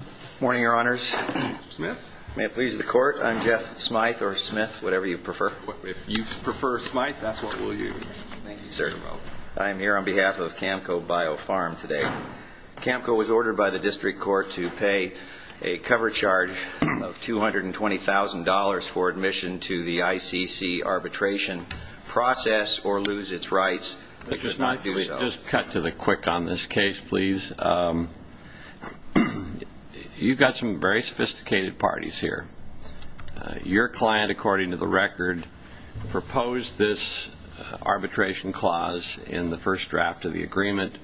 Good morning, Your Honors. May it please the Court, I'm Jeff Smythe, or Smith, whatever you prefer. If you prefer Smythe, that's what we'll use. Thank you, sir. I am here on behalf of Kam-Ko Bio-Pharm today. Kam-Ko was ordered by the District Court to pay a cover charge of $220,000 for admission to the ICC arbitration process or lose its rights. It does not do that. You've got some very sophisticated parties here. Your client, according to the record, proposed this arbitration clause in the first draft of the agreement.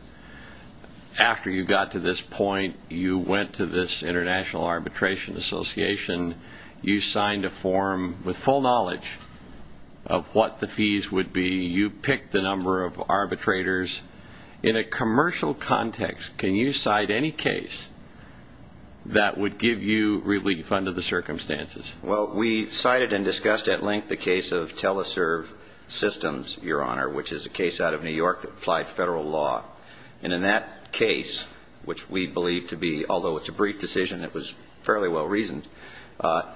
After you got to this point, you went to this International Arbitration Association. You signed a form with full knowledge of what the fees would be. You picked the number of arbitrators. In a commercial context, can you cite any case that would give you relief under the circumstances? Well, we cited and discussed at length the case of Teleserve Systems, Your Honor, which is a case out of New York that applied federal law. And in that case, which we believe to be, although it's a brief decision, it was fairly well reasoned,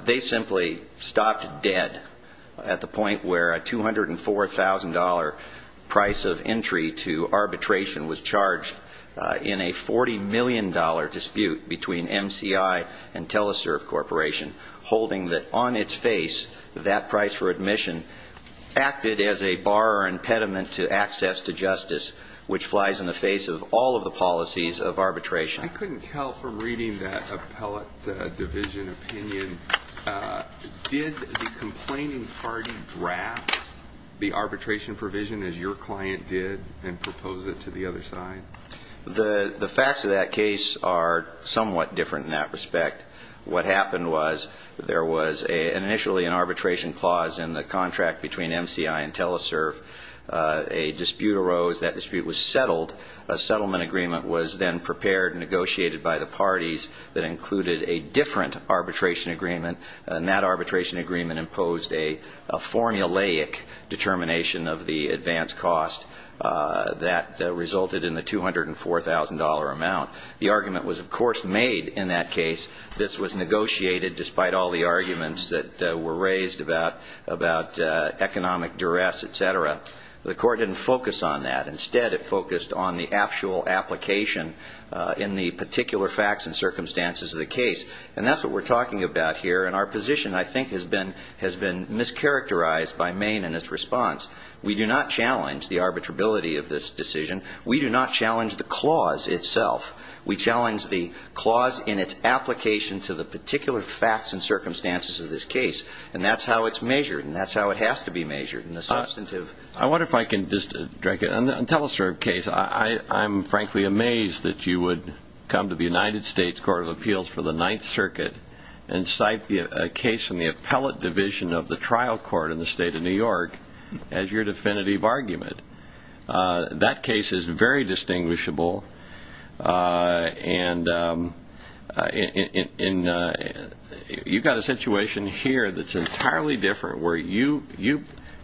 they simply stopped dead at the end of the process. And we have a $40 million dispute between MCI and Teleserve Corporation holding that on its face, that price for admission acted as a bar or impediment to access to justice, which flies in the face of all of the policies of arbitration. I couldn't tell from reading that appellate division opinion, did the complaining party draft the arbitration provision as your client did and propose it to the other side? The facts of that case are somewhat different in that respect. What happened was there was initially an arbitration clause in the contract between MCI and Teleserve. A dispute arose. That dispute was settled. A settlement agreement was then prepared and negotiated by the parties that included a different arbitration agreement. And that arbitration agreement imposed a formulaic determination of the advance cost that resulted in the $204,000 amount. The argument was, of course, made in that case. This was negotiated despite all the arguments that were raised about economic duress, et cetera. The Court didn't focus on that. Instead, it focused on the actual application in the particular facts and circumstances of the case. And that's what we're talking about here. And our position, I think, has been mischaracterized by Maine in its response. We do not challenge the arbitrability of this decision. We do not challenge the clause itself. We challenge the clause in its application to the particular facts and circumstances of this case. And that's how it's measured. And that's how it has to be measured in the substantive. I wonder if I can just direct it. On the Teleserve case, I'm frankly amazed that you would come to the United States Court of Appeals for the Ninth Circuit and cite a case from the appellate division of the trial court in the state of New York as your definitive argument. That case is very distinguishable. And you've got a situation here that's entirely different, where you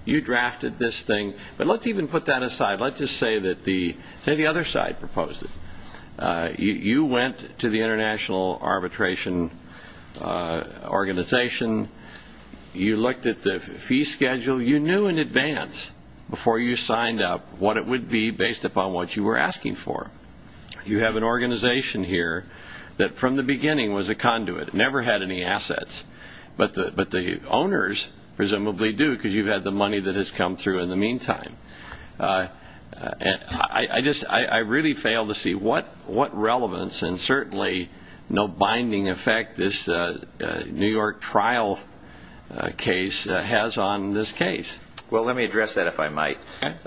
drafted this thing. But let's even put that aside. Let's just say that the other side proposed it. You went to the International Arbitration Organization. You looked at the fee schedule. You knew in advance before you signed up what it would be based upon what you were asking for. You have an organization here that from the beginning was a conduit. It never had any assets. But the owners presumably do, because you've had the money that has come through in the meantime. I really fail to see what relevance and certainly no binding effect this New York trial case has on this case. Well, let me address that, if I might.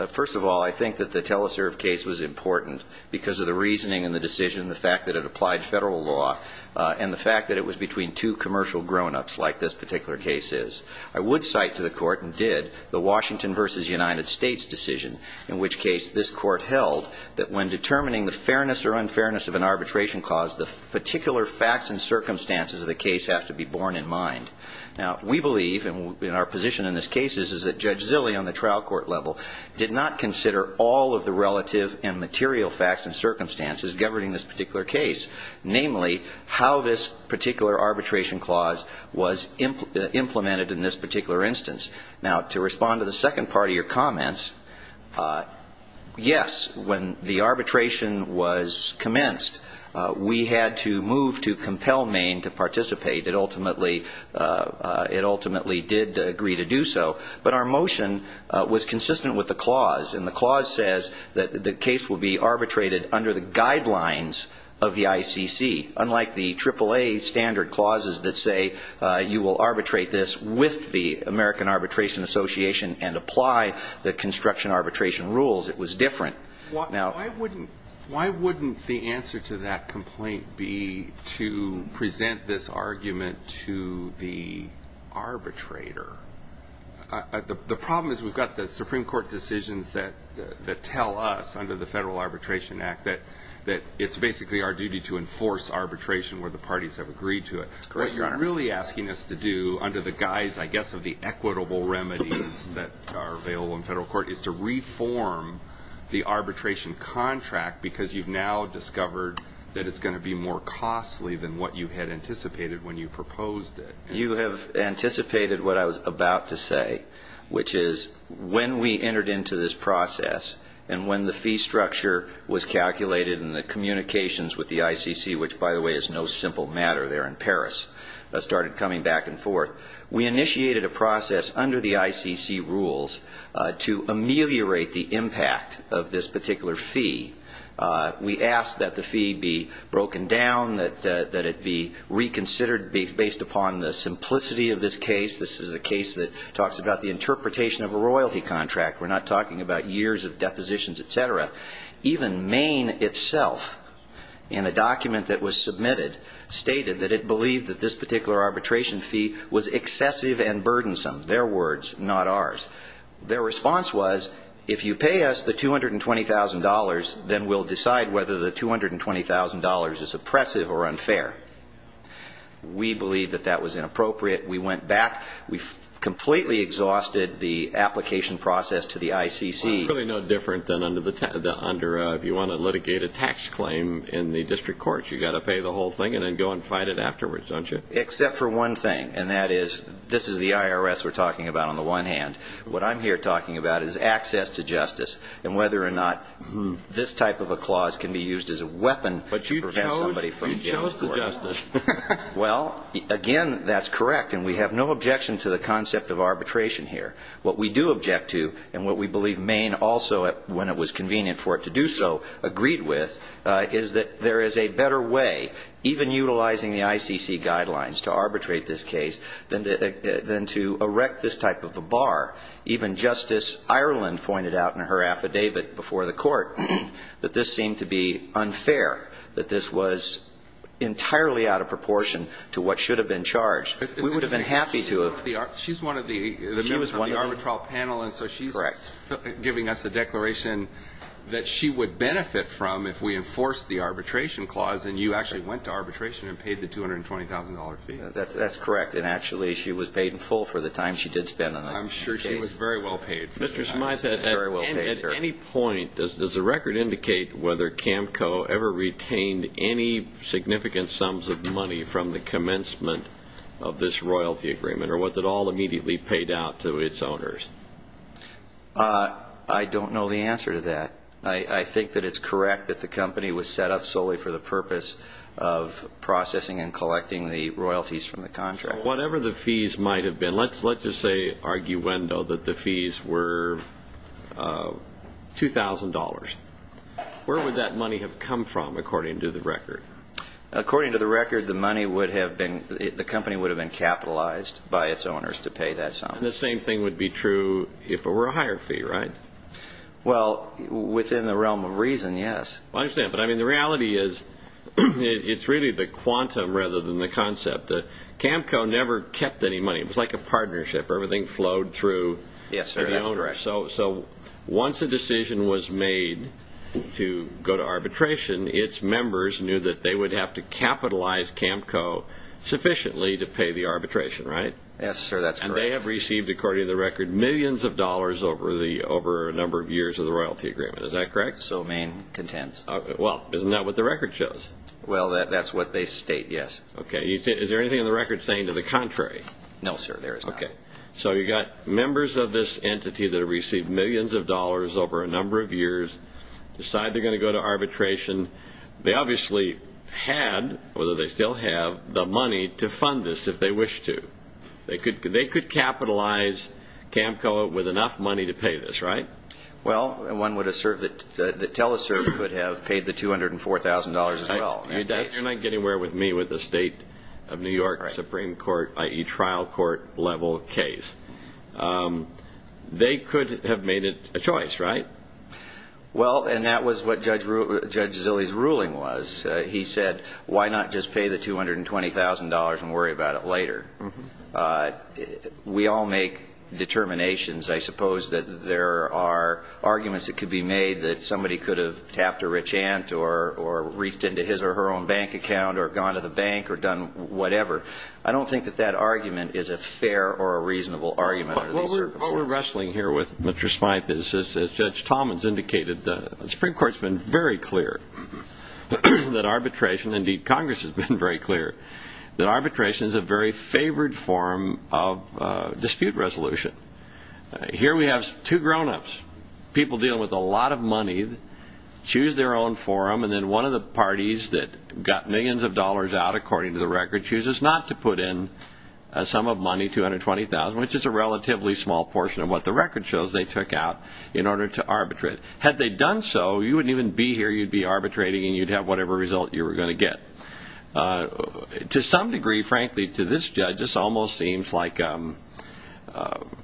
First of all, I think that the Teleserve case was important because of the reasoning and the decision, the fact that it applied federal law, and the fact that it was between two commercial grown-ups, like this particular case is. I would cite to the court and did the Washington v. United States decision, in which case this court held that when determining the fairness or unfairness of an arbitration clause, the particular facts and circumstances of the case have to be borne in mind. Now, we believe, and our position in this case is, is that Judge Zille on the trial court level did not consider all of the relative and material facts and circumstances governing this particular case, namely, how this particular arbitration clause was implemented in this particular instance. Now, to respond to the second part of your comments, yes, when the arbitration was commenced, we had to move to compel Maine to participate. It ultimately, it ultimately did agree to do so. But our motion was consistent with the clause, and the clause says that the case will be arbitrated under the guidelines of the ICC. Unlike the AAA standard clauses that say you will arbitrate this with the American Arbitration Association and apply the construction arbitration rules, it was different. Now why wouldn't, why wouldn't the answer to that complaint be to present this argument to the arbitrator? The problem is we've got the Supreme Court decisions that, that tell us, under the Federal Arbitration Act, that, that it's basically our duty to enforce arbitration where the parties have agreed to it. That's correct, Your Honor. What you're really asking us to do under the guise, I guess, of the equitable remedies that are available in federal court is to reform the arbitration contract because you've now discovered that it's going to be more costly than what you had anticipated when you proposed it. You have anticipated what I was about to say, which is when we entered into this with the ICC, which, by the way, is no simple matter there in Paris, started coming back and forth, we initiated a process under the ICC rules to ameliorate the impact of this particular fee. We asked that the fee be broken down, that, that it be reconsidered based upon the simplicity of this case. This is a case that talks about the interpretation of a royalty contract. We're not talking about years of depositions, et cetera. Even Maine itself, in a document that was submitted, stated that it believed that this particular arbitration fee was excessive and burdensome. Their words, not ours. Their response was, if you pay us the $220,000, then we'll decide whether the $220,000 is oppressive or unfair. We believed that that was inappropriate. We went back. We completely exhausted the application process to the ICC. Well, it's really no different than if you want to litigate a tax claim in the district courts. You've got to pay the whole thing and then go and fight it afterwards, don't you? Except for one thing, and that is, this is the IRS we're talking about on the one hand. What I'm here talking about is access to justice and whether or not this type of a clause can be used as a weapon to prevent somebody from going to court. But you chose the justice. Well, again, that's correct. And we have no objection to the concept of arbitration here. What we do object to and what we believe Maine also, when it was convenient for it to do so, agreed with, is that there is a better way, even utilizing the ICC guidelines, to arbitrate this case than to erect this type of a bar. Even Justice Ireland pointed out in her affidavit before the court that this seemed to be unfair. That this was entirely out of proportion to what should have been charged. We would have been happy to have ---- She's one of the members of the arbitral panel. Correct. And so she's giving us a declaration that she would benefit from if we enforced the arbitration clause and you actually went to arbitration and paid the $220,000 fee. That's correct. And, actually, she was paid in full for the time she did spend on the case. I'm sure she was very well paid. Mr. Smyth had very well paid. At any point, does the record indicate whether CAMCO ever retained any significant sums of money from the commencement of this royalty agreement or was it all immediately paid out to its owners? I don't know the answer to that. I think that it's correct that the company was set up solely for the purpose of processing and collecting the royalties from the contract. Whatever the fees might have been, let's just say arguendo that the fees were $2,000. Where would that money have come from, according to the record? According to the record, the money would have been ---- the company would have been capitalized by its owners to pay that sum. And the same thing would be true if it were a higher fee, right? Well, within the realm of reason, yes. I understand. But, I mean, the reality is it's really the quantum rather than the concept. CAMCO never kept any money. It was like a partnership where everything flowed through the owner. Yes, sir, that's correct. So once a decision was made to go to arbitration, its members knew that they would have to capitalize CAMCO sufficiently to pay the arbitration, right? Yes, sir, that's correct. And they have received, according to the record, millions of dollars over a number of years of the royalty agreement. Is that correct? So main contends. Well, isn't that what the record shows? Well, that's what they state, yes. Okay. Is there anything in the record saying to the contrary? No, sir, there is not. Okay. So you've got members of this entity that have received millions of dollars over a number of years, decide they're going to go to arbitration. They obviously had, or they still have, the money to fund this if they wish to. They could capitalize CAMCO with enough money to pay this, right? Well, one would assert that Teleserve could have paid the $204,000 as well. You're not getting away with me with the State of New York Supreme Court, i.e., trial court level case. They could have made it a choice, right? Well, and that was what Judge Zille's ruling was. He said, why not just pay the $220,000 and worry about it later? We all make determinations. I suppose that there are arguments that could be made that somebody could have tapped a rich aunt or reefed into his or her own bank account or gone to the bank or done whatever. I don't think that that argument is a fair or a reasonable argument under these circumstances. But what we're wrestling here with, Mr. Smythe, is, as Judge Tallman has indicated, the Supreme Court has been very clear that arbitration, indeed Congress has been very clear, that arbitration is a very favored form of dispute resolution. Here we have two grown-ups, people dealing with a lot of money, choose their own forum, and then one of the parties that got millions of dollars out, according to the record, chooses not to put in a sum of money, $220,000, which is a relatively small portion of what the record shows they took out in order to arbitrate. Had they done so, you wouldn't even be here. You'd be arbitrating, and you'd have whatever result you were going to get. To some degree, frankly, to this judge, this almost seems like a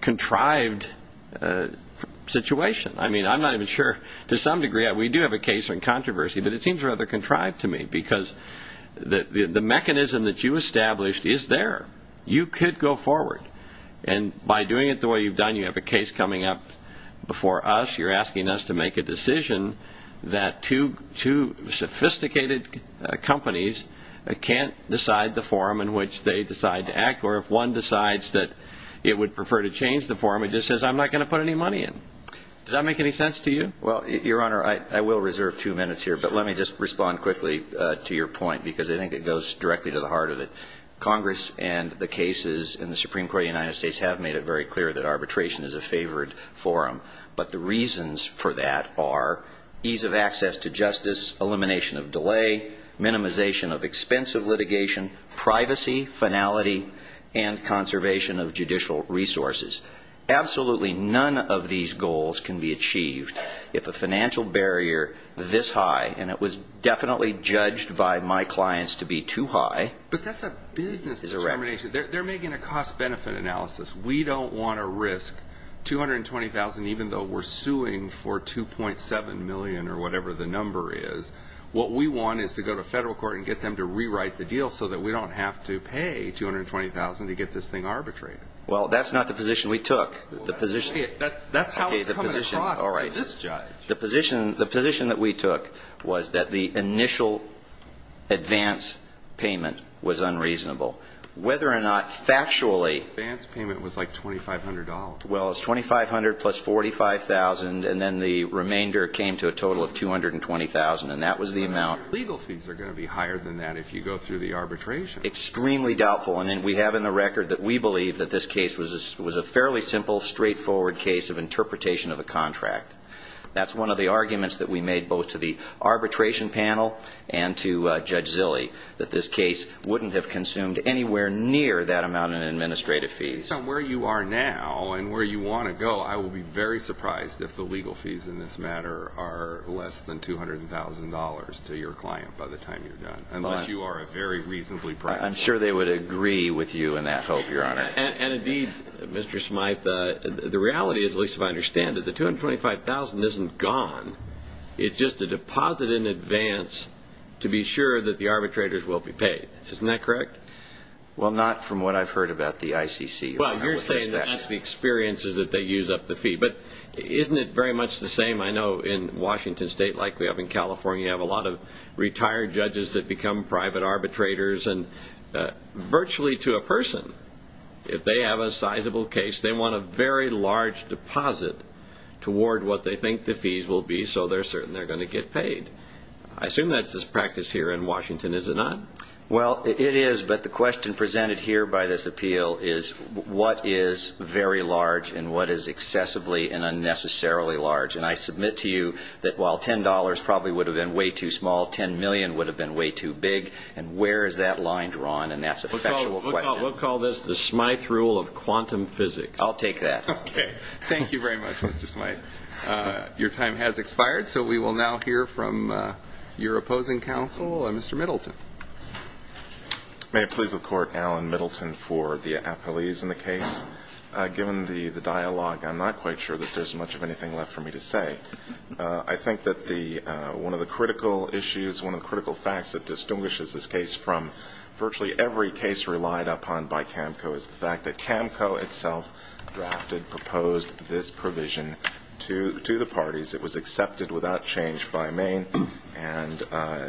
contrived situation. I mean, I'm not even sure. To some degree, we do have a case in controversy, but it seems rather contrived to me because the mechanism that you established is there. You could go forward, and by doing it the way you've done, you have a case coming up before us. You're asking us to make a decision that two sophisticated companies can't decide the form in which they decide to act, or if one decides that it would prefer to change the form, it just says, I'm not going to put any money in. Does that make any sense to you? Well, Your Honor, I will reserve two minutes here, but let me just respond quickly to your point because I think it goes directly to the heart of it. Congress and the cases in the Supreme Court of the United States have made it very clear that arbitration is a favored forum, but the reasons for that are ease of access to justice, elimination of delay, minimization of expensive litigation, privacy, finality, and conservation of judicial resources. Absolutely none of these goals can be achieved if a financial barrier this high, and it was definitely judged by my clients to be too high. But that's a business determination. They're making a cost-benefit analysis. We don't want to risk $220,000, even though we're suing for $2.7 million or whatever the number is. What we want is to go to federal court and get them to rewrite the deal so that we don't have to pay $220,000 to get this thing arbitrated. Well, that's not the position we took. That's how it's coming across to this judge. The position that we took was that the initial advance payment was unreasonable. Whether or not factually the advance payment was like $2,500. Well, it's $2,500 plus $45,000, and then the remainder came to a total of $220,000, and that was the amount. Legal fees are going to be higher than that if you go through the arbitration. Extremely doubtful, and we have in the record that we believe that this case was a fairly simple, straightforward case of interpretation of a contract. That's one of the arguments that we made both to the arbitration panel and to Judge Zille, that this case wouldn't have consumed anywhere near that amount in administrative fees. Based on where you are now and where you want to go, I would be very surprised if the legal fees in this matter are less than $200,000 to your client by the time you're done, unless you are a very reasonably priced client. I'm sure they would agree with you in that hope, Your Honor. And indeed, Mr. Smythe, the reality is, at least if I understand it, the $225,000 isn't gone. It's just a deposit in advance to be sure that the arbitrators will be paid. Isn't that correct? Well, not from what I've heard about the ICC. Well, you're saying that's the experience is that they use up the fee. But isn't it very much the same? I know in Washington State, like we have in California, you have a lot of retired judges that become private arbitrators. And virtually to a person, if they have a sizable case, they want a very large deposit toward what they think the fees will be so they're certain they're going to get paid. I assume that's this practice here in Washington, is it not? Well, it is. But the question presented here by this appeal is what is very large and what is excessively and unnecessarily large. And I submit to you that while $10 probably would have been way too small, $10 million would have been way too big. And where is that line drawn? And that's a factual question. We'll call this the Smythe rule of quantum physics. I'll take that. Okay. Thank you very much, Mr. Smythe. Your time has expired, so we will now hear from your opposing counsel, Mr. Middleton. May it please the Court, Alan Middleton for the appellees in the case. Given the dialogue, I'm not quite sure that there's much of anything left for me to say. I think that one of the critical issues, one of the critical facts that distinguishes this case from virtually every case relied upon by CAMCO is the fact that CAMCO itself drafted, proposed this provision to the parties. It was accepted without change by Maine. And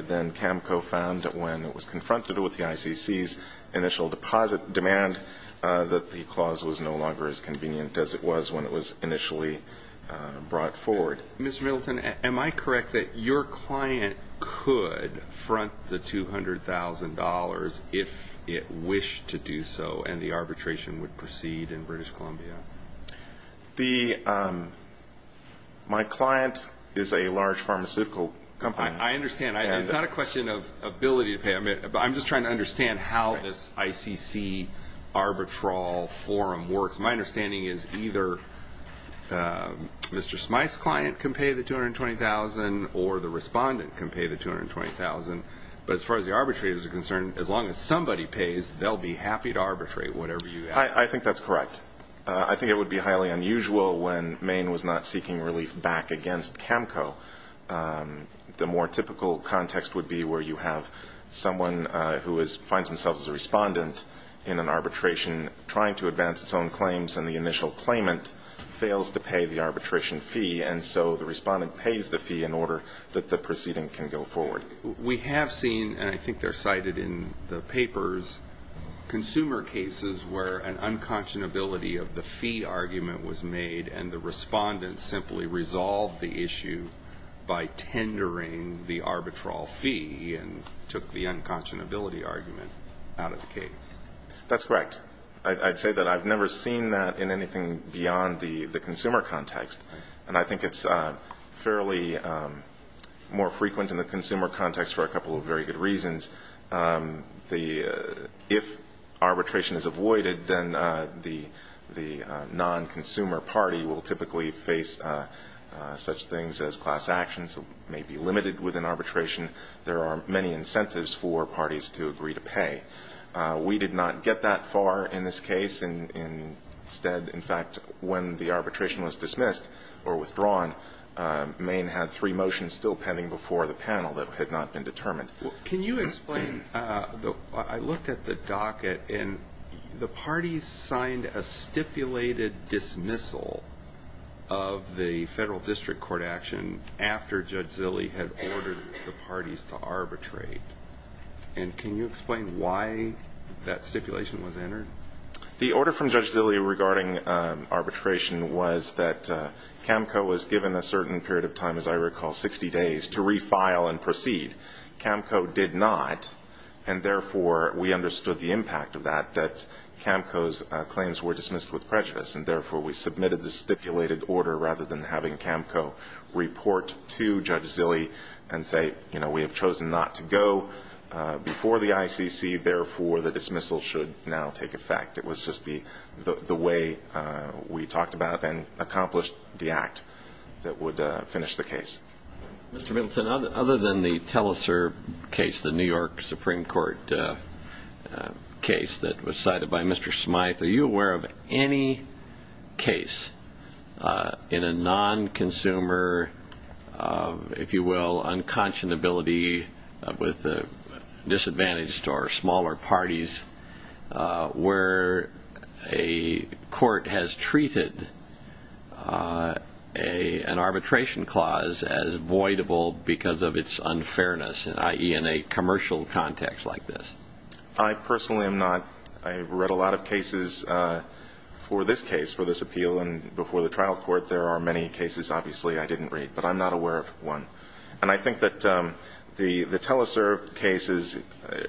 then CAMCO found that when it was confronted with the ICC's initial deposit demand, that the clause was no longer as convenient as it was when it was initially brought forward. Mr. Middleton, am I correct that your client could front the $200,000 if it wished to do so, and the arbitration would proceed in British Columbia? My client is a large pharmaceutical company. I understand. It's not a question of ability to pay. I'm just trying to understand how this ICC arbitral forum works. My understanding is either Mr. Smythe's client can pay the $220,000 or the respondent can pay the $220,000. But as far as the arbitrator is concerned, as long as somebody pays, they'll be happy to arbitrate whatever you ask. I think that's correct. I think it would be highly unusual when Maine was not seeking relief back against CAMCO. The more typical context would be where you have someone who finds themselves as a respondent in an arbitration, trying to advance its own claims, and the initial claimant fails to pay the arbitration fee, and so the respondent pays the fee in order that the proceeding can go forward. We have seen, and I think they're cited in the papers, consumer cases where an unconscionability of the fee argument was made and the respondent simply resolved the issue by tendering the arbitral fee and took the unconscionability argument out of the case. That's correct. I'd say that I've never seen that in anything beyond the consumer context, and I think it's fairly more frequent in the consumer context for a couple of very good reasons. If arbitration is avoided, then the non-consumer party will typically face such things as class actions that may be limited within arbitration. There are many incentives for parties to agree to pay. We did not get that far in this case. Instead, in fact, when the arbitration was dismissed or withdrawn, Maine had three motions still pending before the panel that had not been determined. Can you explain? I looked at the docket, and the parties signed a stipulated dismissal of the Federal District Court action after Judge Zille had ordered the parties to arbitrate. And can you explain why that stipulation was entered? The order from Judge Zille regarding arbitration was that CAMCO was given a certain period of time, as I recall, 60 days, to refile and proceed. CAMCO did not, and therefore we understood the impact of that, that CAMCO's claims were dismissed with prejudice, and therefore we submitted the stipulated order rather than having CAMCO report to Judge Zille and say, you know, we have chosen not to go before the ICC, and therefore the dismissal should now take effect. It was just the way we talked about and accomplished the act that would finish the case. Mr. Middleton, other than the Telser case, the New York Supreme Court case that was cited by Mr. Smyth, are you aware of any case in a non-consumer, if you will, unconscionability with a disadvantaged or smaller parties where a court has treated an arbitration clause as voidable because of its unfairness, i.e. in a commercial context like this? I personally am not. I have read a lot of cases for this case, for this appeal, and before the trial court there are many cases, obviously, I didn't read, but I'm not aware of one. And I think that the Telser case is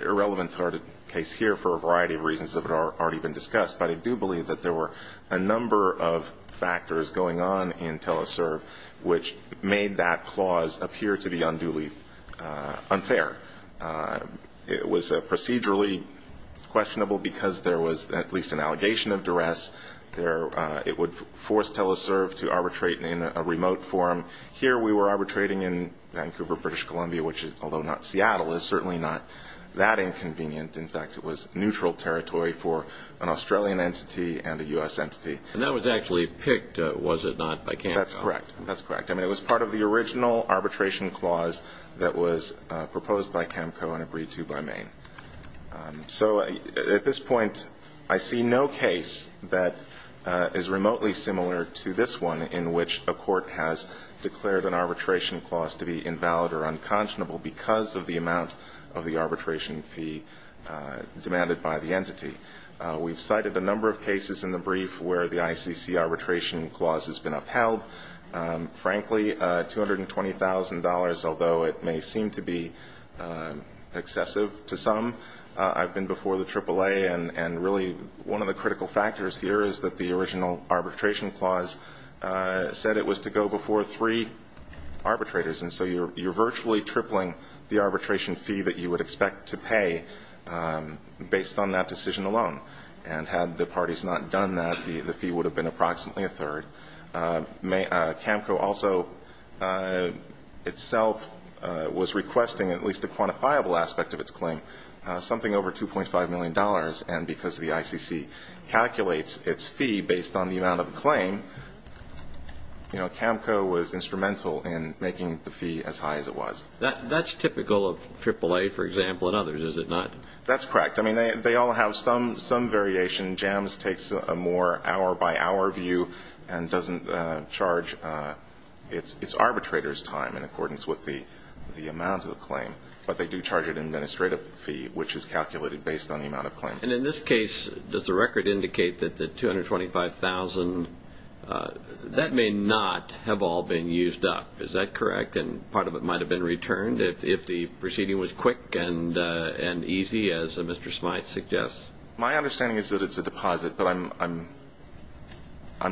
irrelevant to our case here for a variety of reasons that have already been discussed, but I do believe that there were a number of factors going on in Telser which made that clause appear to be unduly unfair. It was procedurally questionable because there was at least an allegation of duress. It would force Telser to arbitrate in a remote forum. Here we were arbitrating in Vancouver, British Columbia, which, although not Seattle, is certainly not that inconvenient. In fact, it was neutral territory for an Australian entity and a U.S. entity. And that was actually picked, was it not, by counsel? That's correct. That's correct. I mean, it was part of the original arbitration clause that was proposed by CAMCO and agreed to by Maine. So at this point I see no case that is remotely similar to this one in which a court has declared an arbitration clause to be invalid or unconscionable because of the amount of the arbitration fee demanded by the entity. We've cited a number of cases in the brief where the ICC arbitration clause has been upheld. Frankly, $220,000, although it may seem to be excessive to some, I've been before the AAA and really one of the critical factors here is that the original arbitration clause said it was to go before three arbitrators. And so you're virtually tripling the arbitration fee that you would expect to pay based on that decision alone. And had the parties not done that, the fee would have been approximately a third. CAMCO also itself was requesting at least a quantifiable aspect of its claim, something over $2.5 million. And because the ICC calculates its fee based on the amount of the claim, you know, CAMCO was instrumental in making the fee as high as it was. That's typical of AAA, for example, and others, is it not? That's correct. I mean, they all have some variation. JAMS takes a more hour-by-hour view and doesn't charge its arbitrators' time in accordance with the amount of the claim, but they do charge an administrative fee, which is calculated based on the amount of claim. And in this case, does the record indicate that the $225,000, that may not have all been used up, is that correct? And part of it might have been returned if the proceeding was quick and easy, as Mr. Smyth suggests. My understanding is that it's a deposit, but I'm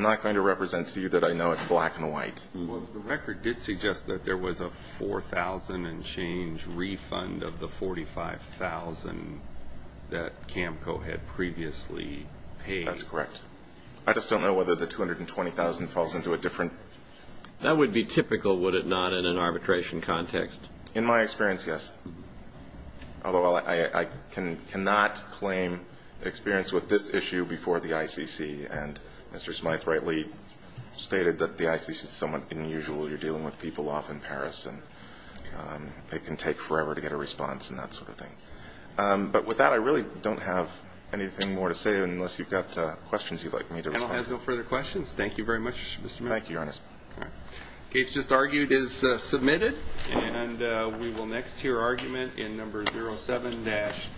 not going to represent to you that I know it's black and white. Well, the record did suggest that there was a $4,000 and change refund of the $45,000 that CAMCO had previously paid. That's correct. I just don't know whether the $220,000 falls into a different ---- That would be typical, would it not, in an arbitration context? In my experience, yes. Although I cannot claim experience with this issue before the ICC. And Mr. Smyth rightly stated that the ICC is somewhat unusual. You're dealing with people off in Paris, and it can take forever to get a response and that sort of thing. But with that, I really don't have anything more to say, unless you've got questions you'd like me to respond to. And I'll ask no further questions. Thank you very much, Mr. Miller. Thank you, Your Honor. The case just argued is submitted. And we will next hear argument in No. 07-35867.